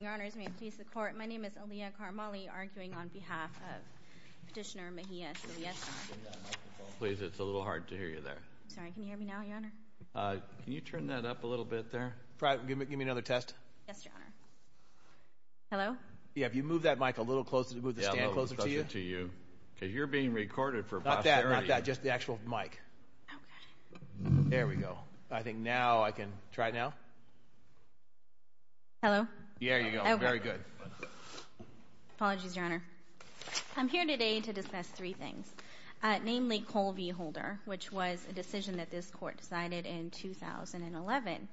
Your honors, may it please the court, my name is Aaliyah Karmali, arguing on behalf of Petitioner Mejias Siliezar. Please, it's a little hard to hear you there. Sorry, can you hear me now, your honor? Can you turn that up a little bit there? Give me another test. Yes, your honor. Hello? Yeah, if you move that mic a little closer, move the stand closer to you. Because you're being recorded for posterity. Not that, not that, just the actual mic. Oh, good. There we go. I think now I can try now. Hello? Yeah, there you go. Very good. Apologies, your honor. I'm here today to discuss three things. Namely, Cole v. Holder, which was a decision that this court decided in 2011.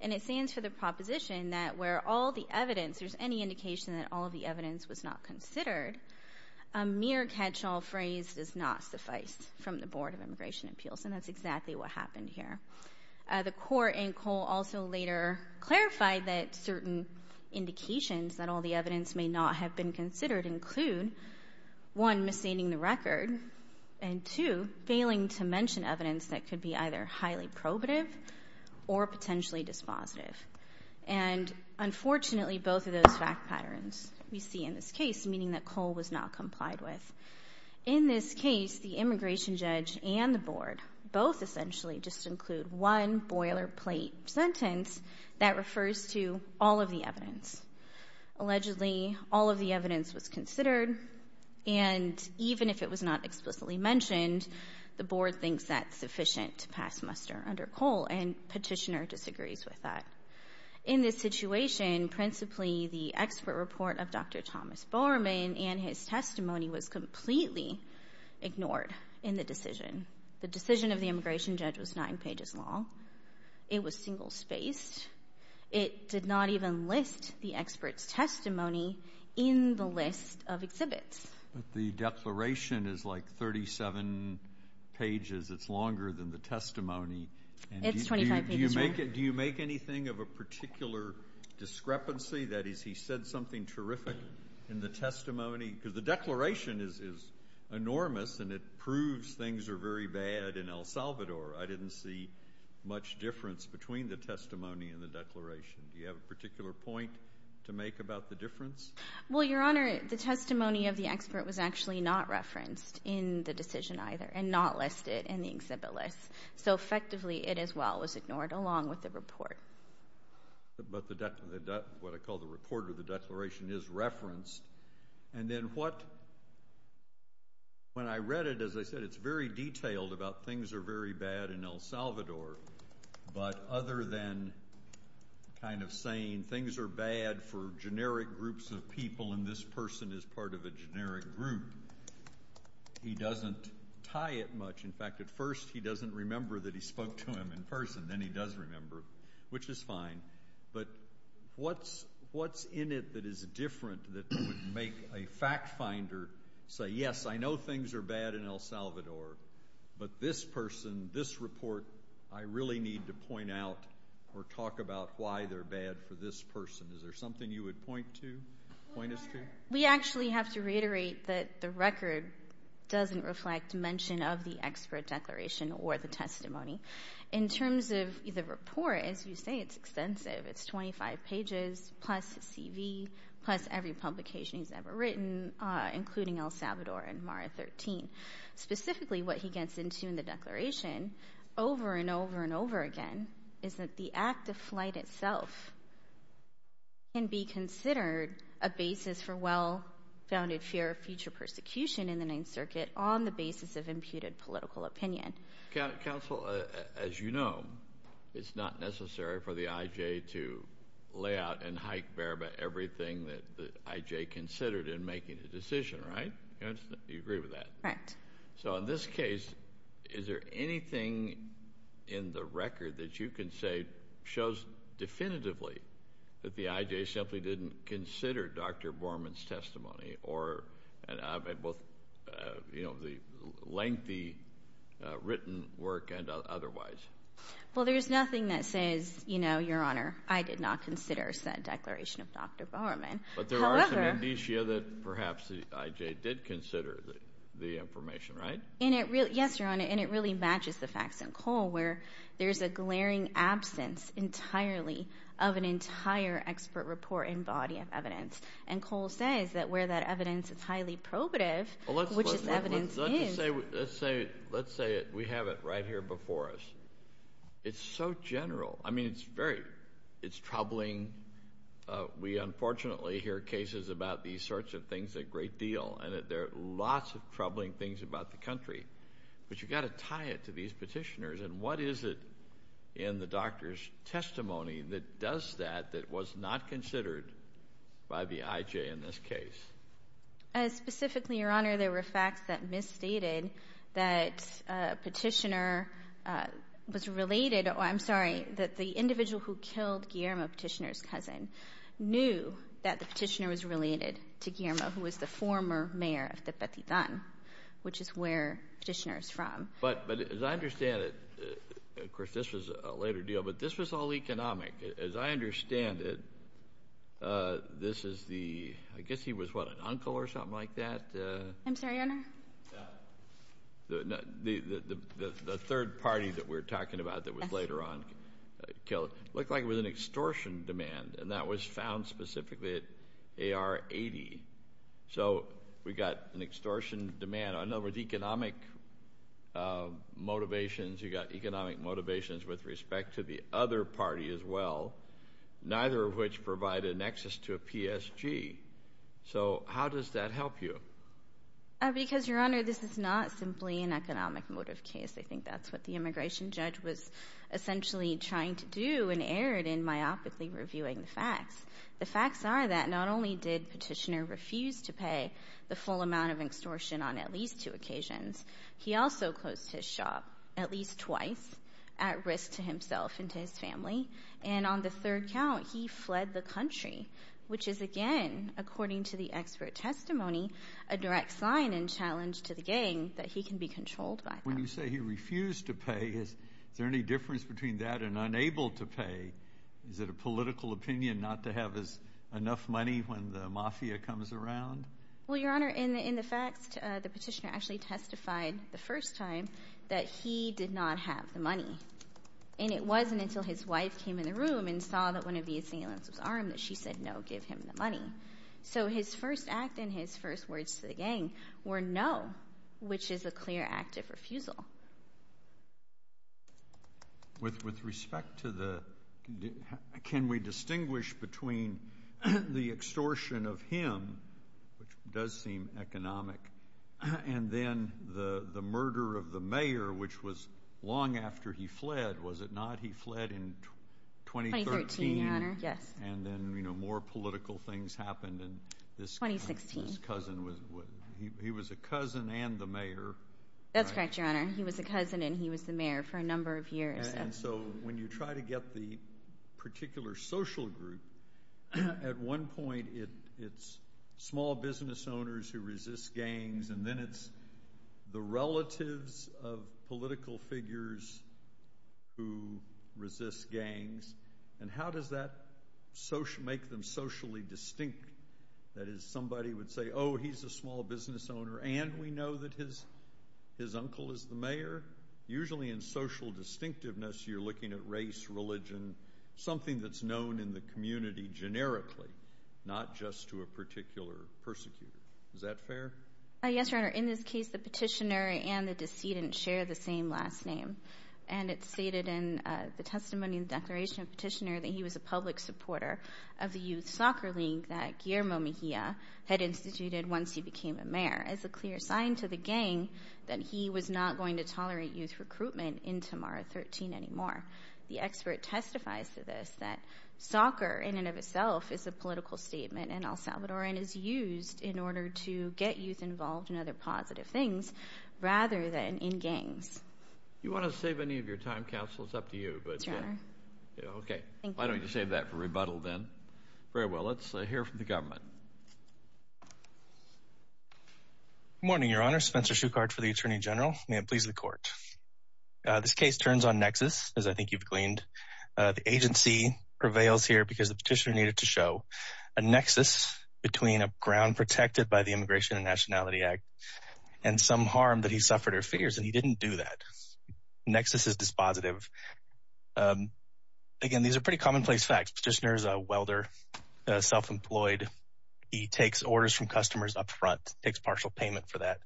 And it stands for the proposition that where all the evidence, there's any indication that all of the evidence was not considered, a mere catch-all phrase does not suffice from the Board of Immigration Appeals. And that's exactly what happened here. The court in Cole also later clarified that certain indications that all the evidence may not have been considered include, one, misstating the record, and two, failing to mention evidence that could be either highly probative or potentially dispositive. And unfortunately, both of those fact patterns we see in this case, meaning that Cole was not complied with. In this case, the immigration judge and the board both essentially just include one boilerplate sentence that refers to all of the evidence. Allegedly, all of the evidence was considered, and even if it was not explicitly mentioned, the board thinks that's sufficient to pass muster under Cole, and petitioner disagrees with that. In this situation, principally the expert report of Dr. Thomas Bowerman and his testimony was completely ignored in the decision. The decision of the immigration judge was nine pages long. It was single-spaced. It did not even list the expert's testimony in the list of exhibits. But the declaration is like 37 pages. It's longer than the testimony. It's 25 pages long. Do you make anything of a particular discrepancy? That is, he said something terrific in the testimony? Because the declaration is enormous, and it proves things are very bad in El Salvador. I didn't see much difference between the testimony and the declaration. Do you have a particular point to make about the difference? Well, Your Honor, the testimony of the expert was actually not referenced in the decision either and not listed in the exhibit list. So, effectively, it as well was ignored along with the report. But what I call the report or the declaration is referenced. And then what? When I read it, as I said, it's very detailed about things are very bad in El Salvador. But other than kind of saying things are bad for generic groups of people and this person is part of a generic group, he doesn't tie it much. In fact, at first he doesn't remember that he spoke to him in person. Then he does remember, which is fine. But what's in it that is different that would make a fact finder say, yes, I know things are bad in El Salvador, but this person, this report, I really need to point out or talk about why they're bad for this person. Is there something you would point to, point us to? We actually have to reiterate that the record doesn't reflect mention of the expert declaration or the testimony. In terms of the report, as you say, it's extensive. It's 25 pages, plus his CV, plus every publication he's ever written, including El Salvador and MARA 13. Specifically, what he gets into in the declaration, over and over and over again, is that the act of flight itself can be considered a basis for well-founded fear of future persecution in the Ninth Circuit on the basis of imputed political opinion. Counsel, as you know, it's not necessary for the IJ to lay out and hike bare about everything that the IJ considered in making a decision, right? You agree with that? Correct. So in this case, is there anything in the record that you can say shows definitively that the IJ simply didn't consider Dr. Borman's testimony, or both the lengthy written work and otherwise? Well, there's nothing that says, you know, Your Honor, I did not consider said declaration of Dr. Borman. But there are some indicia that perhaps the IJ did consider the information, right? Yes, Your Honor, and it really matches the facts in Cole, where there's a glaring absence entirely of an entire expert report and body of evidence. And Cole says that where that evidence is highly probative, which this evidence is. Let's say we have it right here before us. It's so general. I mean, it's very troubling. We, unfortunately, hear cases about these sorts of things a great deal. And there are lots of troubling things about the country. But you've got to tie it to these petitioners. And what is it in the doctor's testimony that does that that was not considered by the IJ in this case? Specifically, Your Honor, there were facts that misstated that a petitioner was related. I'm sorry, that the individual who killed Guillermo Petitioner's cousin knew that the petitioner was related to Guillermo, who was the former mayor of Tepetitan, which is where Petitioner is from. But as I understand it, of course, this was a later deal, but this was all economic. As I understand it, this is the ‑‑ I guess he was, what, an uncle or something like that? I'm sorry, Your Honor? The third party that we're talking about that was later on killed looked like it was an extortion demand, and that was found specifically at AR-80. So we got an extortion demand. I know with economic motivations, you got economic motivations with respect to the other party as well, neither of which provided an access to a PSG. So how does that help you? Because, Your Honor, this is not simply an economic motive case. I think that's what the immigration judge was essentially trying to do and erred in myopically reviewing the facts. The facts are that not only did Petitioner refuse to pay the full amount of extortion on at least two occasions, he also closed his shop at least twice at risk to himself and to his family. And on the third count, he fled the country, which is, again, according to the expert testimony, a direct sign and challenge to the gang that he can be controlled by them. When you say he refused to pay, is there any difference between that and unable to pay? Is it a political opinion not to have enough money when the mafia comes around? Well, Your Honor, in the facts, the Petitioner actually testified the first time that he did not have the money. And it wasn't until his wife came in the room and saw that one of the assailants was armed that she said no, give him the money. So his first act and his first words to the gang were no, which is a clear act of refusal. With respect to the – can we distinguish between the extortion of him, which does seem economic, and then the murder of the mayor, which was long after he fled, was it not? He fled in 2013. 2013, Your Honor. Yes. And then, you know, more political things happened and this cousin was – 2016. He was a cousin and the mayor. That's correct, Your Honor. He was a cousin and he was the mayor for a number of years. And so when you try to get the particular social group, at one point it's small business owners who resist gangs and then it's the relatives of political figures who resist gangs. And how does that make them socially distinct? That is, somebody would say, oh, he's a small business owner and we know that his uncle is the mayor? Usually in social distinctiveness, you're looking at race, religion, something that's known in the community generically, not just to a particular persecutor. Is that fair? Yes, Your Honor. In this case, the petitioner and the decedent share the same last name. And it's stated in the testimony in the declaration of petitioner that he was a public supporter of the youth soccer league that Guillermo Mejia had instituted once he became a mayor as a clear sign to the gang that he was not going to tolerate youth recruitment in Tamara 13 anymore. The expert testifies to this that soccer in and of itself is a political statement in El Salvador and is used in order to get youth involved in other positive things rather than in gangs. Do you want to save any of your time, counsel? It's up to you. Sure. Okay. Why don't you save that for rebuttal then? Very well. Let's hear from the government. Good morning, Your Honor. Spencer Shuchard for the Attorney General. May it please the Court. This case turns on nexus, as I think you've gleaned. The agency prevails here because the petitioner needed to show a nexus between a ground protected by the Immigration and Nationality Act and some harm that he suffered or fears, and he didn't do that. Nexus is dispositive. Again, these are pretty commonplace facts. Petitioner is a welder, self-employed. He takes orders from customers up front, takes partial payment for that,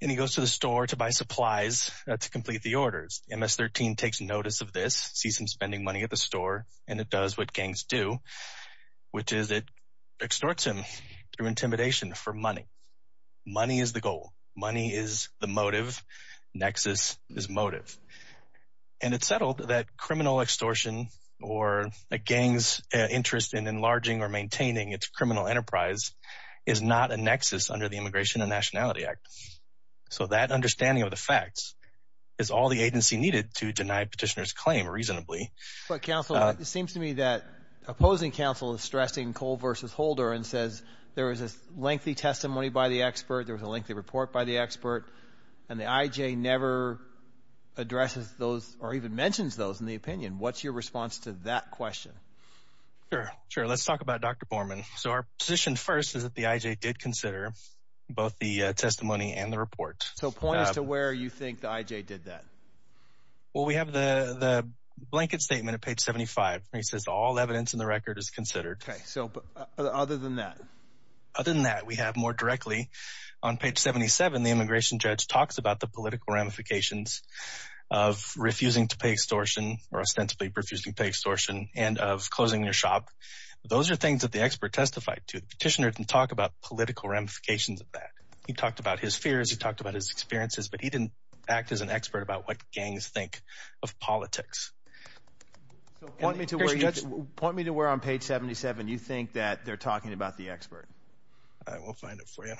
and he goes to the store to buy supplies to complete the orders. MS-13 takes notice of this, sees him spending money at the store, and it does what gangs do, which is it extorts him through intimidation for money. Money is the goal. Money is the motive. Nexus is motive. And it's settled that criminal extortion or a gang's interest in enlarging or maintaining its criminal enterprise is not a nexus under the Immigration and Nationality Act. So that understanding of the facts is all the agency needed to deny petitioner's claim reasonably. But, counsel, it seems to me that opposing counsel is stressing Cole versus Holder and says there was a lengthy testimony by the expert, there was a lengthy report by the expert, and the IJ never addresses those or even mentions those in the opinion. What's your response to that question? Sure, sure. Let's talk about Dr. Borman. So our position first is that the IJ did consider both the testimony and the report. So point us to where you think the IJ did that. Well, we have the blanket statement at page 75. It says all evidence in the record is considered. Okay. So other than that? Other than that, we have more directly on page 77, the immigration judge talks about the political ramifications of refusing to pay extortion or ostensibly refusing to pay extortion and of closing your shop. Those are things that the expert testified to. The petitioner didn't talk about political ramifications of that. He talked about his fears. He talked about his experiences. But he didn't act as an expert about what gangs think of politics. So point me to where on page 77 you think that they're talking about the expert. I will find it for you.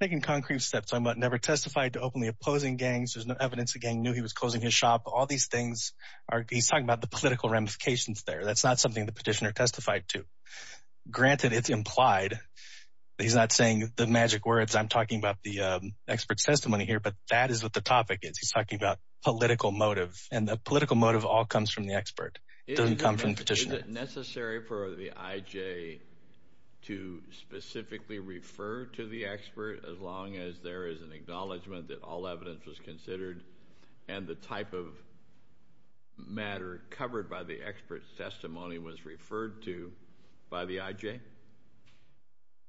I'm taking concrete steps. I never testified to openly opposing gangs. There's no evidence the gang knew he was closing his shop. All these things are – he's talking about the political ramifications there. That's not something the petitioner testified to. Granted, it's implied, but he's not saying the magic words. I'm talking about the expert's testimony here, but that is what the topic is. He's talking about political motive, and the political motive all comes from the expert. It doesn't come from the petitioner. Is it necessary for the IJ to specifically refer to the expert as long as there is an acknowledgment that all evidence was considered and the type of matter covered by the expert's testimony was referred to by the IJ?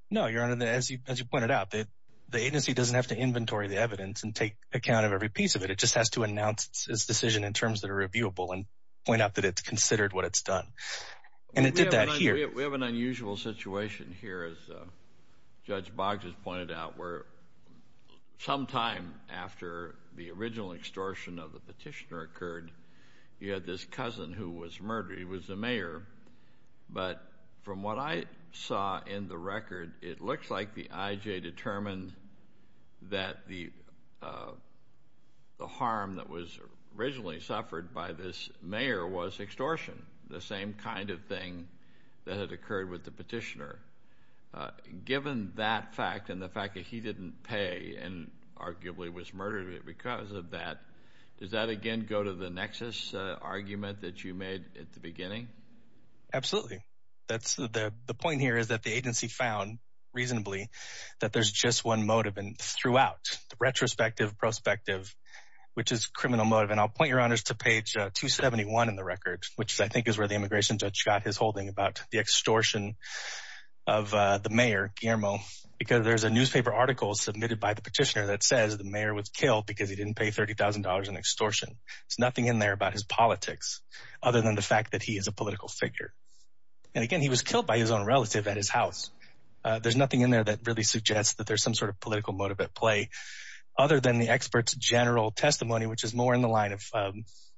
No, Your Honor. As you pointed out, the agency doesn't have to inventory the evidence and take account of every piece of it. It just has to announce its decision in terms that are reviewable and point out that it's considered what it's done, and it did that here. We have an unusual situation here, as Judge Boggs has pointed out, where sometime after the original extortion of the petitioner occurred, you had this cousin who was murdered. He was the mayor, but from what I saw in the record, it looks like the IJ determined that the harm that was originally suffered by this mayor was extortion, the same kind of thing that had occurred with the petitioner. Given that fact and the fact that he didn't pay and arguably was murdered because of that, does that again go to the nexus argument that you made at the beginning? Absolutely. The point here is that the agency found reasonably that there's just one motive throughout the retrospective, prospective, which is criminal motive. I'll point Your Honors to page 271 in the record, which I think is where the immigration judge got his holding about the extortion of the mayor, Guillermo, because there's a newspaper article submitted by the petitioner that says the mayor was killed because he didn't pay $30,000 in extortion. There's nothing in there about his politics other than the fact that he is a political figure. And again, he was killed by his own relative at his house. There's nothing in there that really suggests that there's some sort of political motive at play other than the expert's general testimony, which is more in the line of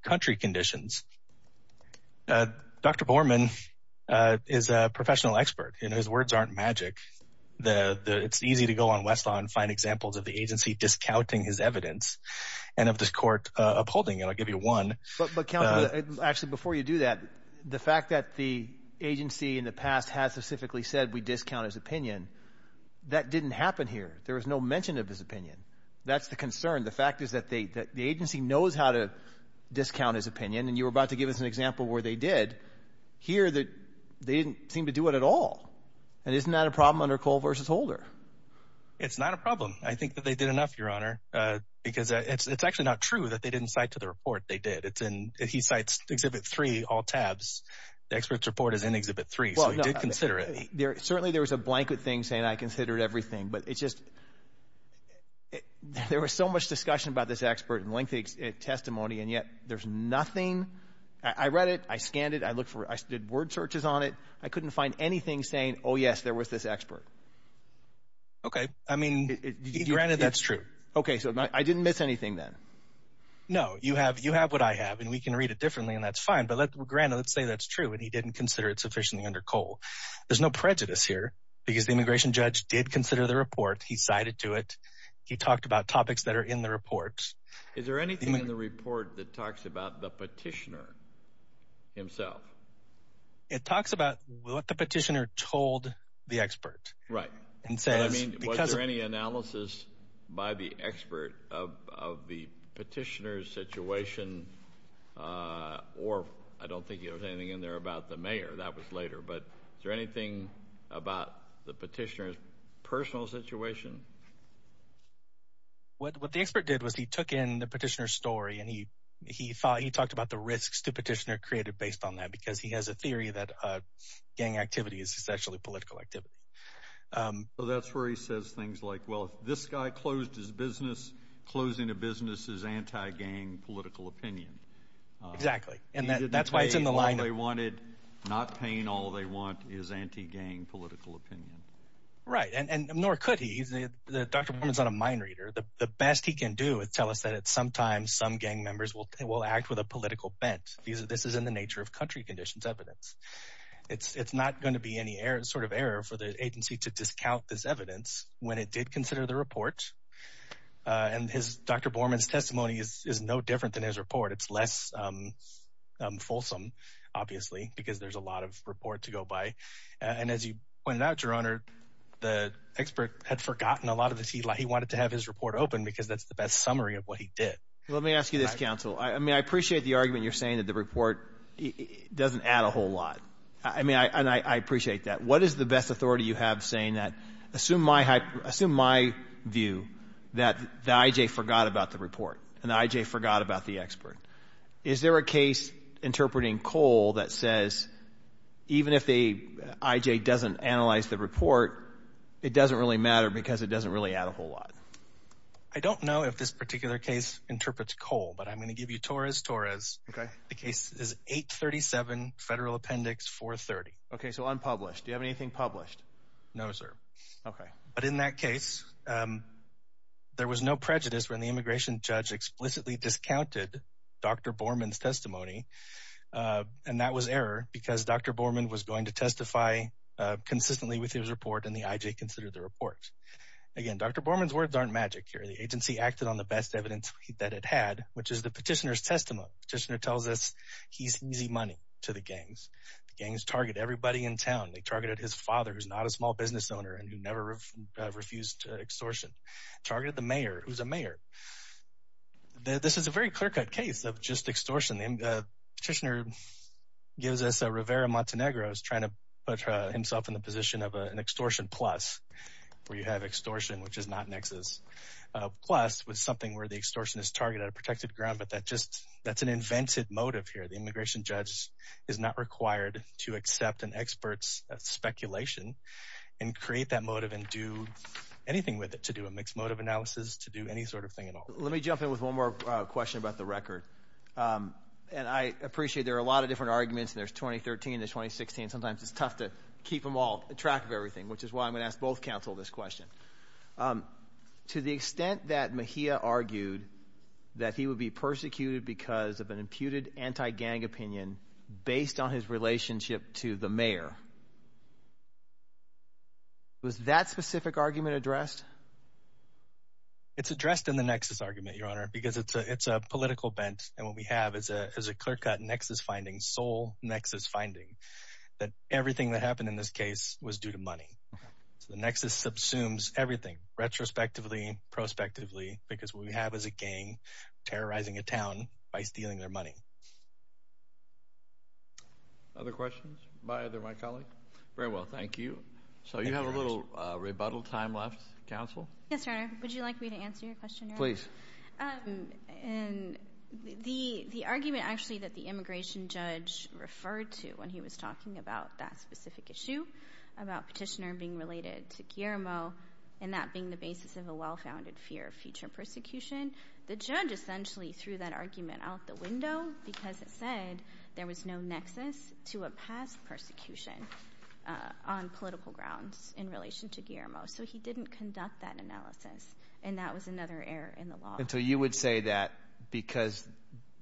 country conditions. Dr. Borman is a professional expert and his words aren't magic. It's easy to go on Westlaw and find examples of the agency discounting his evidence and of the court upholding it. I'll give you one. But, Counselor, actually, before you do that, the fact that the agency in the past has specifically said we discount his opinion, that didn't happen here. There was no mention of his opinion. That's the concern. The fact is that the agency knows how to discount his opinion, and you were about to give us an example where they did. Here they didn't seem to do it at all. And isn't that a problem under Cole v. Holder? It's not a problem. I think that they did enough, Your Honor, because it's actually not true that they didn't cite to the report they did. He cites Exhibit 3, all tabs. The expert's report is in Exhibit 3, so he did consider it. Certainly there was a blanket thing saying I considered everything, but it's just there was so much discussion about this expert and lengthy testimony, and yet there's nothing. I read it. I scanned it. I did word searches on it. I couldn't find anything saying, oh, yes, there was this expert. Okay. I mean, granted, that's true. Okay. So I didn't miss anything then? No. You have what I have, and we can read it differently, and that's fine. But granted, let's say that's true, and he didn't consider it sufficiently under Cole. There's no prejudice here because the immigration judge did consider the report. He cited to it. He talked about topics that are in the report. Is there anything in the report that talks about the petitioner himself? It talks about what the petitioner told the expert. Right. Was there any analysis by the expert of the petitioner's situation, or I don't think there was anything in there about the mayor. That was later. But is there anything about the petitioner's personal situation? He talked about the risks the petitioner created based on that because he has a theory that gang activity is essentially political activity. That's where he says things like, well, if this guy closed his business, closing a business is anti-gang political opinion. Exactly, and that's why it's in the line. He didn't pay all they wanted. Not paying all they want is anti-gang political opinion. Right, and nor could he. Dr. Borman is not a mind reader. The best he can do is tell us that sometimes some gang members will act with a political bent. This is in the nature of country conditions evidence. It's not going to be any sort of error for the agency to discount this evidence when it did consider the report. And Dr. Borman's testimony is no different than his report. It's less fulsome, obviously, because there's a lot of report to go by. And as you pointed out, Your Honor, the expert had forgotten a lot of this. He wanted to have his report open because that's the best summary of what he did. Let me ask you this, counsel. I appreciate the argument you're saying that the report doesn't add a whole lot. I appreciate that. What is the best authority you have saying that? Assume my view that the I.J. forgot about the report and the I.J. forgot about the expert. Is there a case interpreting Cole that says, even if the I.J. doesn't analyze the report, it doesn't really matter because it doesn't really add a whole lot? I don't know if this particular case interprets Cole, but I'm going to give you Torres-Torres. The case is 837 Federal Appendix 430. Okay, so unpublished. Do you have anything published? No, sir. Okay. But in that case, there was no prejudice when the immigration judge explicitly discounted Dr. Borman's testimony, and that was error because Dr. Borman was going to testify consistently with his report and the I.J. considered the report. Again, Dr. Borman's words aren't magic here. The agency acted on the best evidence that it had, which is the petitioner's testimony. Petitioner tells us he's easy money to the gangs. The gangs target everybody in town. They targeted his father, who's not a small business owner and who never refused extortion. Targeted the mayor, who's a mayor. This is a very clear-cut case of just extortion. Petitioner gives us a Rivera Montenegro who's trying to put himself in the position of an extortion plus, where you have extortion, which is not nexus, plus with something where the extortion is targeted, a protected ground, but that's an invented motive here. The immigration judge is not required to accept an expert's speculation and create that motive and do anything with it to do a mixed motive analysis, to do any sort of thing at all. Let me jump in with one more question about the record. I appreciate there are a lot of different arguments, and there's 2013, there's 2016. Sometimes it's tough to keep them all track of everything, which is why I'm going to ask both counsel this question. To the extent that Mejia argued that he would be persecuted because of an imputed anti-gang opinion based on his relationship to the mayor, was that specific argument addressed? It's addressed in the nexus argument, Your Honor, because it's a political bent, and what we have is a clear-cut nexus finding, sole nexus finding, that everything that happened in this case was due to money. So the nexus subsumes everything retrospectively, prospectively, because what we have is a gang terrorizing a town by stealing their money. Other questions by either of my colleagues? Very well. Thank you. So you have a little rebuttal time left, counsel. Yes, Your Honor. Would you like me to answer your question, Your Honor? Please. The argument, actually, that the immigration judge referred to when he was talking about that specific issue, about petitioner being related to Guillermo and that being the basis of a well-founded fear of future persecution, the judge essentially threw that argument out the window because it said there was no nexus to a past persecution on political grounds in relation to Guillermo. So he didn't conduct that analysis, and that was another error in the law. So you would say that because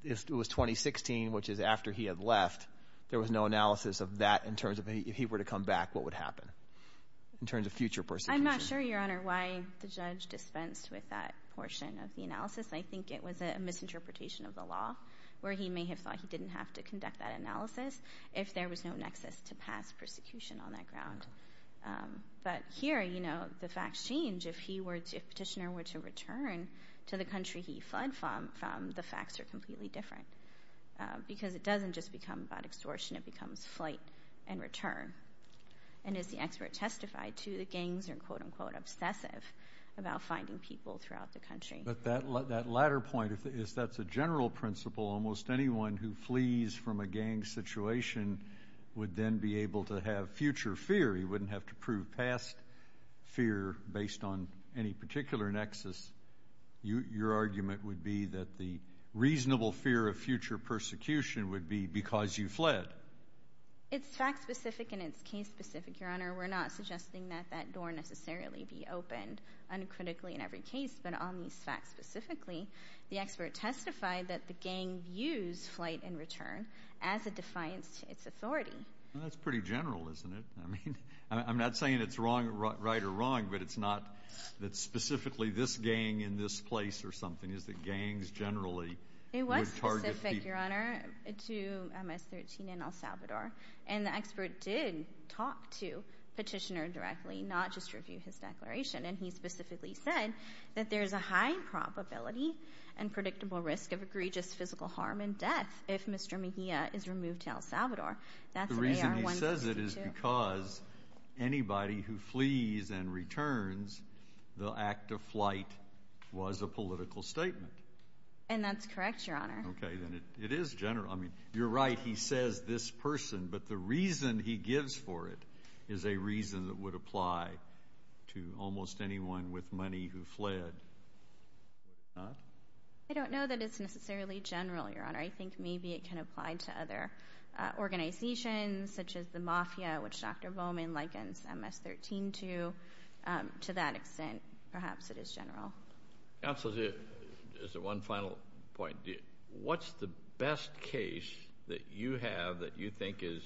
it was 2016, which is after he had left, there was no analysis of that in terms of if he were to come back, what would happen in terms of future persecution? I'm not sure, Your Honor, why the judge dispensed with that portion of the analysis. I think it was a misinterpretation of the law where he may have thought he didn't have to conduct that analysis if there was no nexus to past persecution on that ground. But here, you know, the facts change. If petitioner were to return to the country he fled from, the facts are completely different because it doesn't just become about extortion. It becomes flight and return. And as the expert testified, too, the gangs are, quote-unquote, obsessive about finding people throughout the country. But that latter point is that's a general principle. Almost anyone who flees from a gang situation would then be able to have future fear. He wouldn't have to prove past fear based on any particular nexus. Your argument would be that the reasonable fear of future persecution would be because you fled. It's fact-specific and it's case-specific, Your Honor. We're not suggesting that that door necessarily be opened uncritically in every case. But on these facts specifically, the expert testified that the gang views flight and return as a defiance to its authority. That's pretty general, isn't it? I mean, I'm not saying it's right or wrong, but it's not that specifically this gang in this place or something. It's that gangs generally would target people. Thank you, Your Honor, to MS-13 and El Salvador. And the expert did talk to Petitioner directly, not just review his declaration. And he specifically said that there's a high probability and predictable risk of egregious physical harm and death if Mr. Mejia is removed to El Salvador. That's AR-162. The reason he says it is because anybody who flees and returns, the act of flight was a political statement. And that's correct, Your Honor. Okay. Then it is general. I mean, you're right, he says this person. But the reason he gives for it is a reason that would apply to almost anyone with money who fled. I don't know that it's necessarily general, Your Honor. I think maybe it can apply to other organizations such as the mafia, which Dr. Bowman likens MS-13 to. To that extent, perhaps it is general. Counsel, just one final point. What's the best case that you have that you think is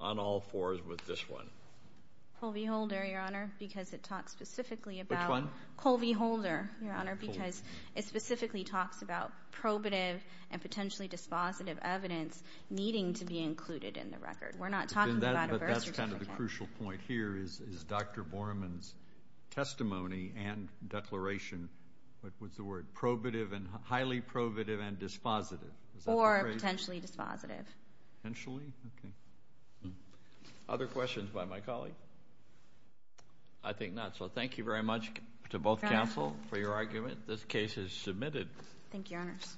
on all fours with this one? Colby-Holder, Your Honor, because it talks specifically about Colby-Holder, Your Honor, because it specifically talks about probative and potentially dispositive evidence needing to be included in the record. We're not talking about a birth certificate. That's kind of the crucial point here is Dr. Bowman's testimony and declaration. What's the word? Probative and highly probative and dispositive. Or potentially dispositive. Potentially? Okay. Other questions by my colleague? I think not, so thank you very much to both counsel for your argument. This case is submitted. Thank you, Your Honors.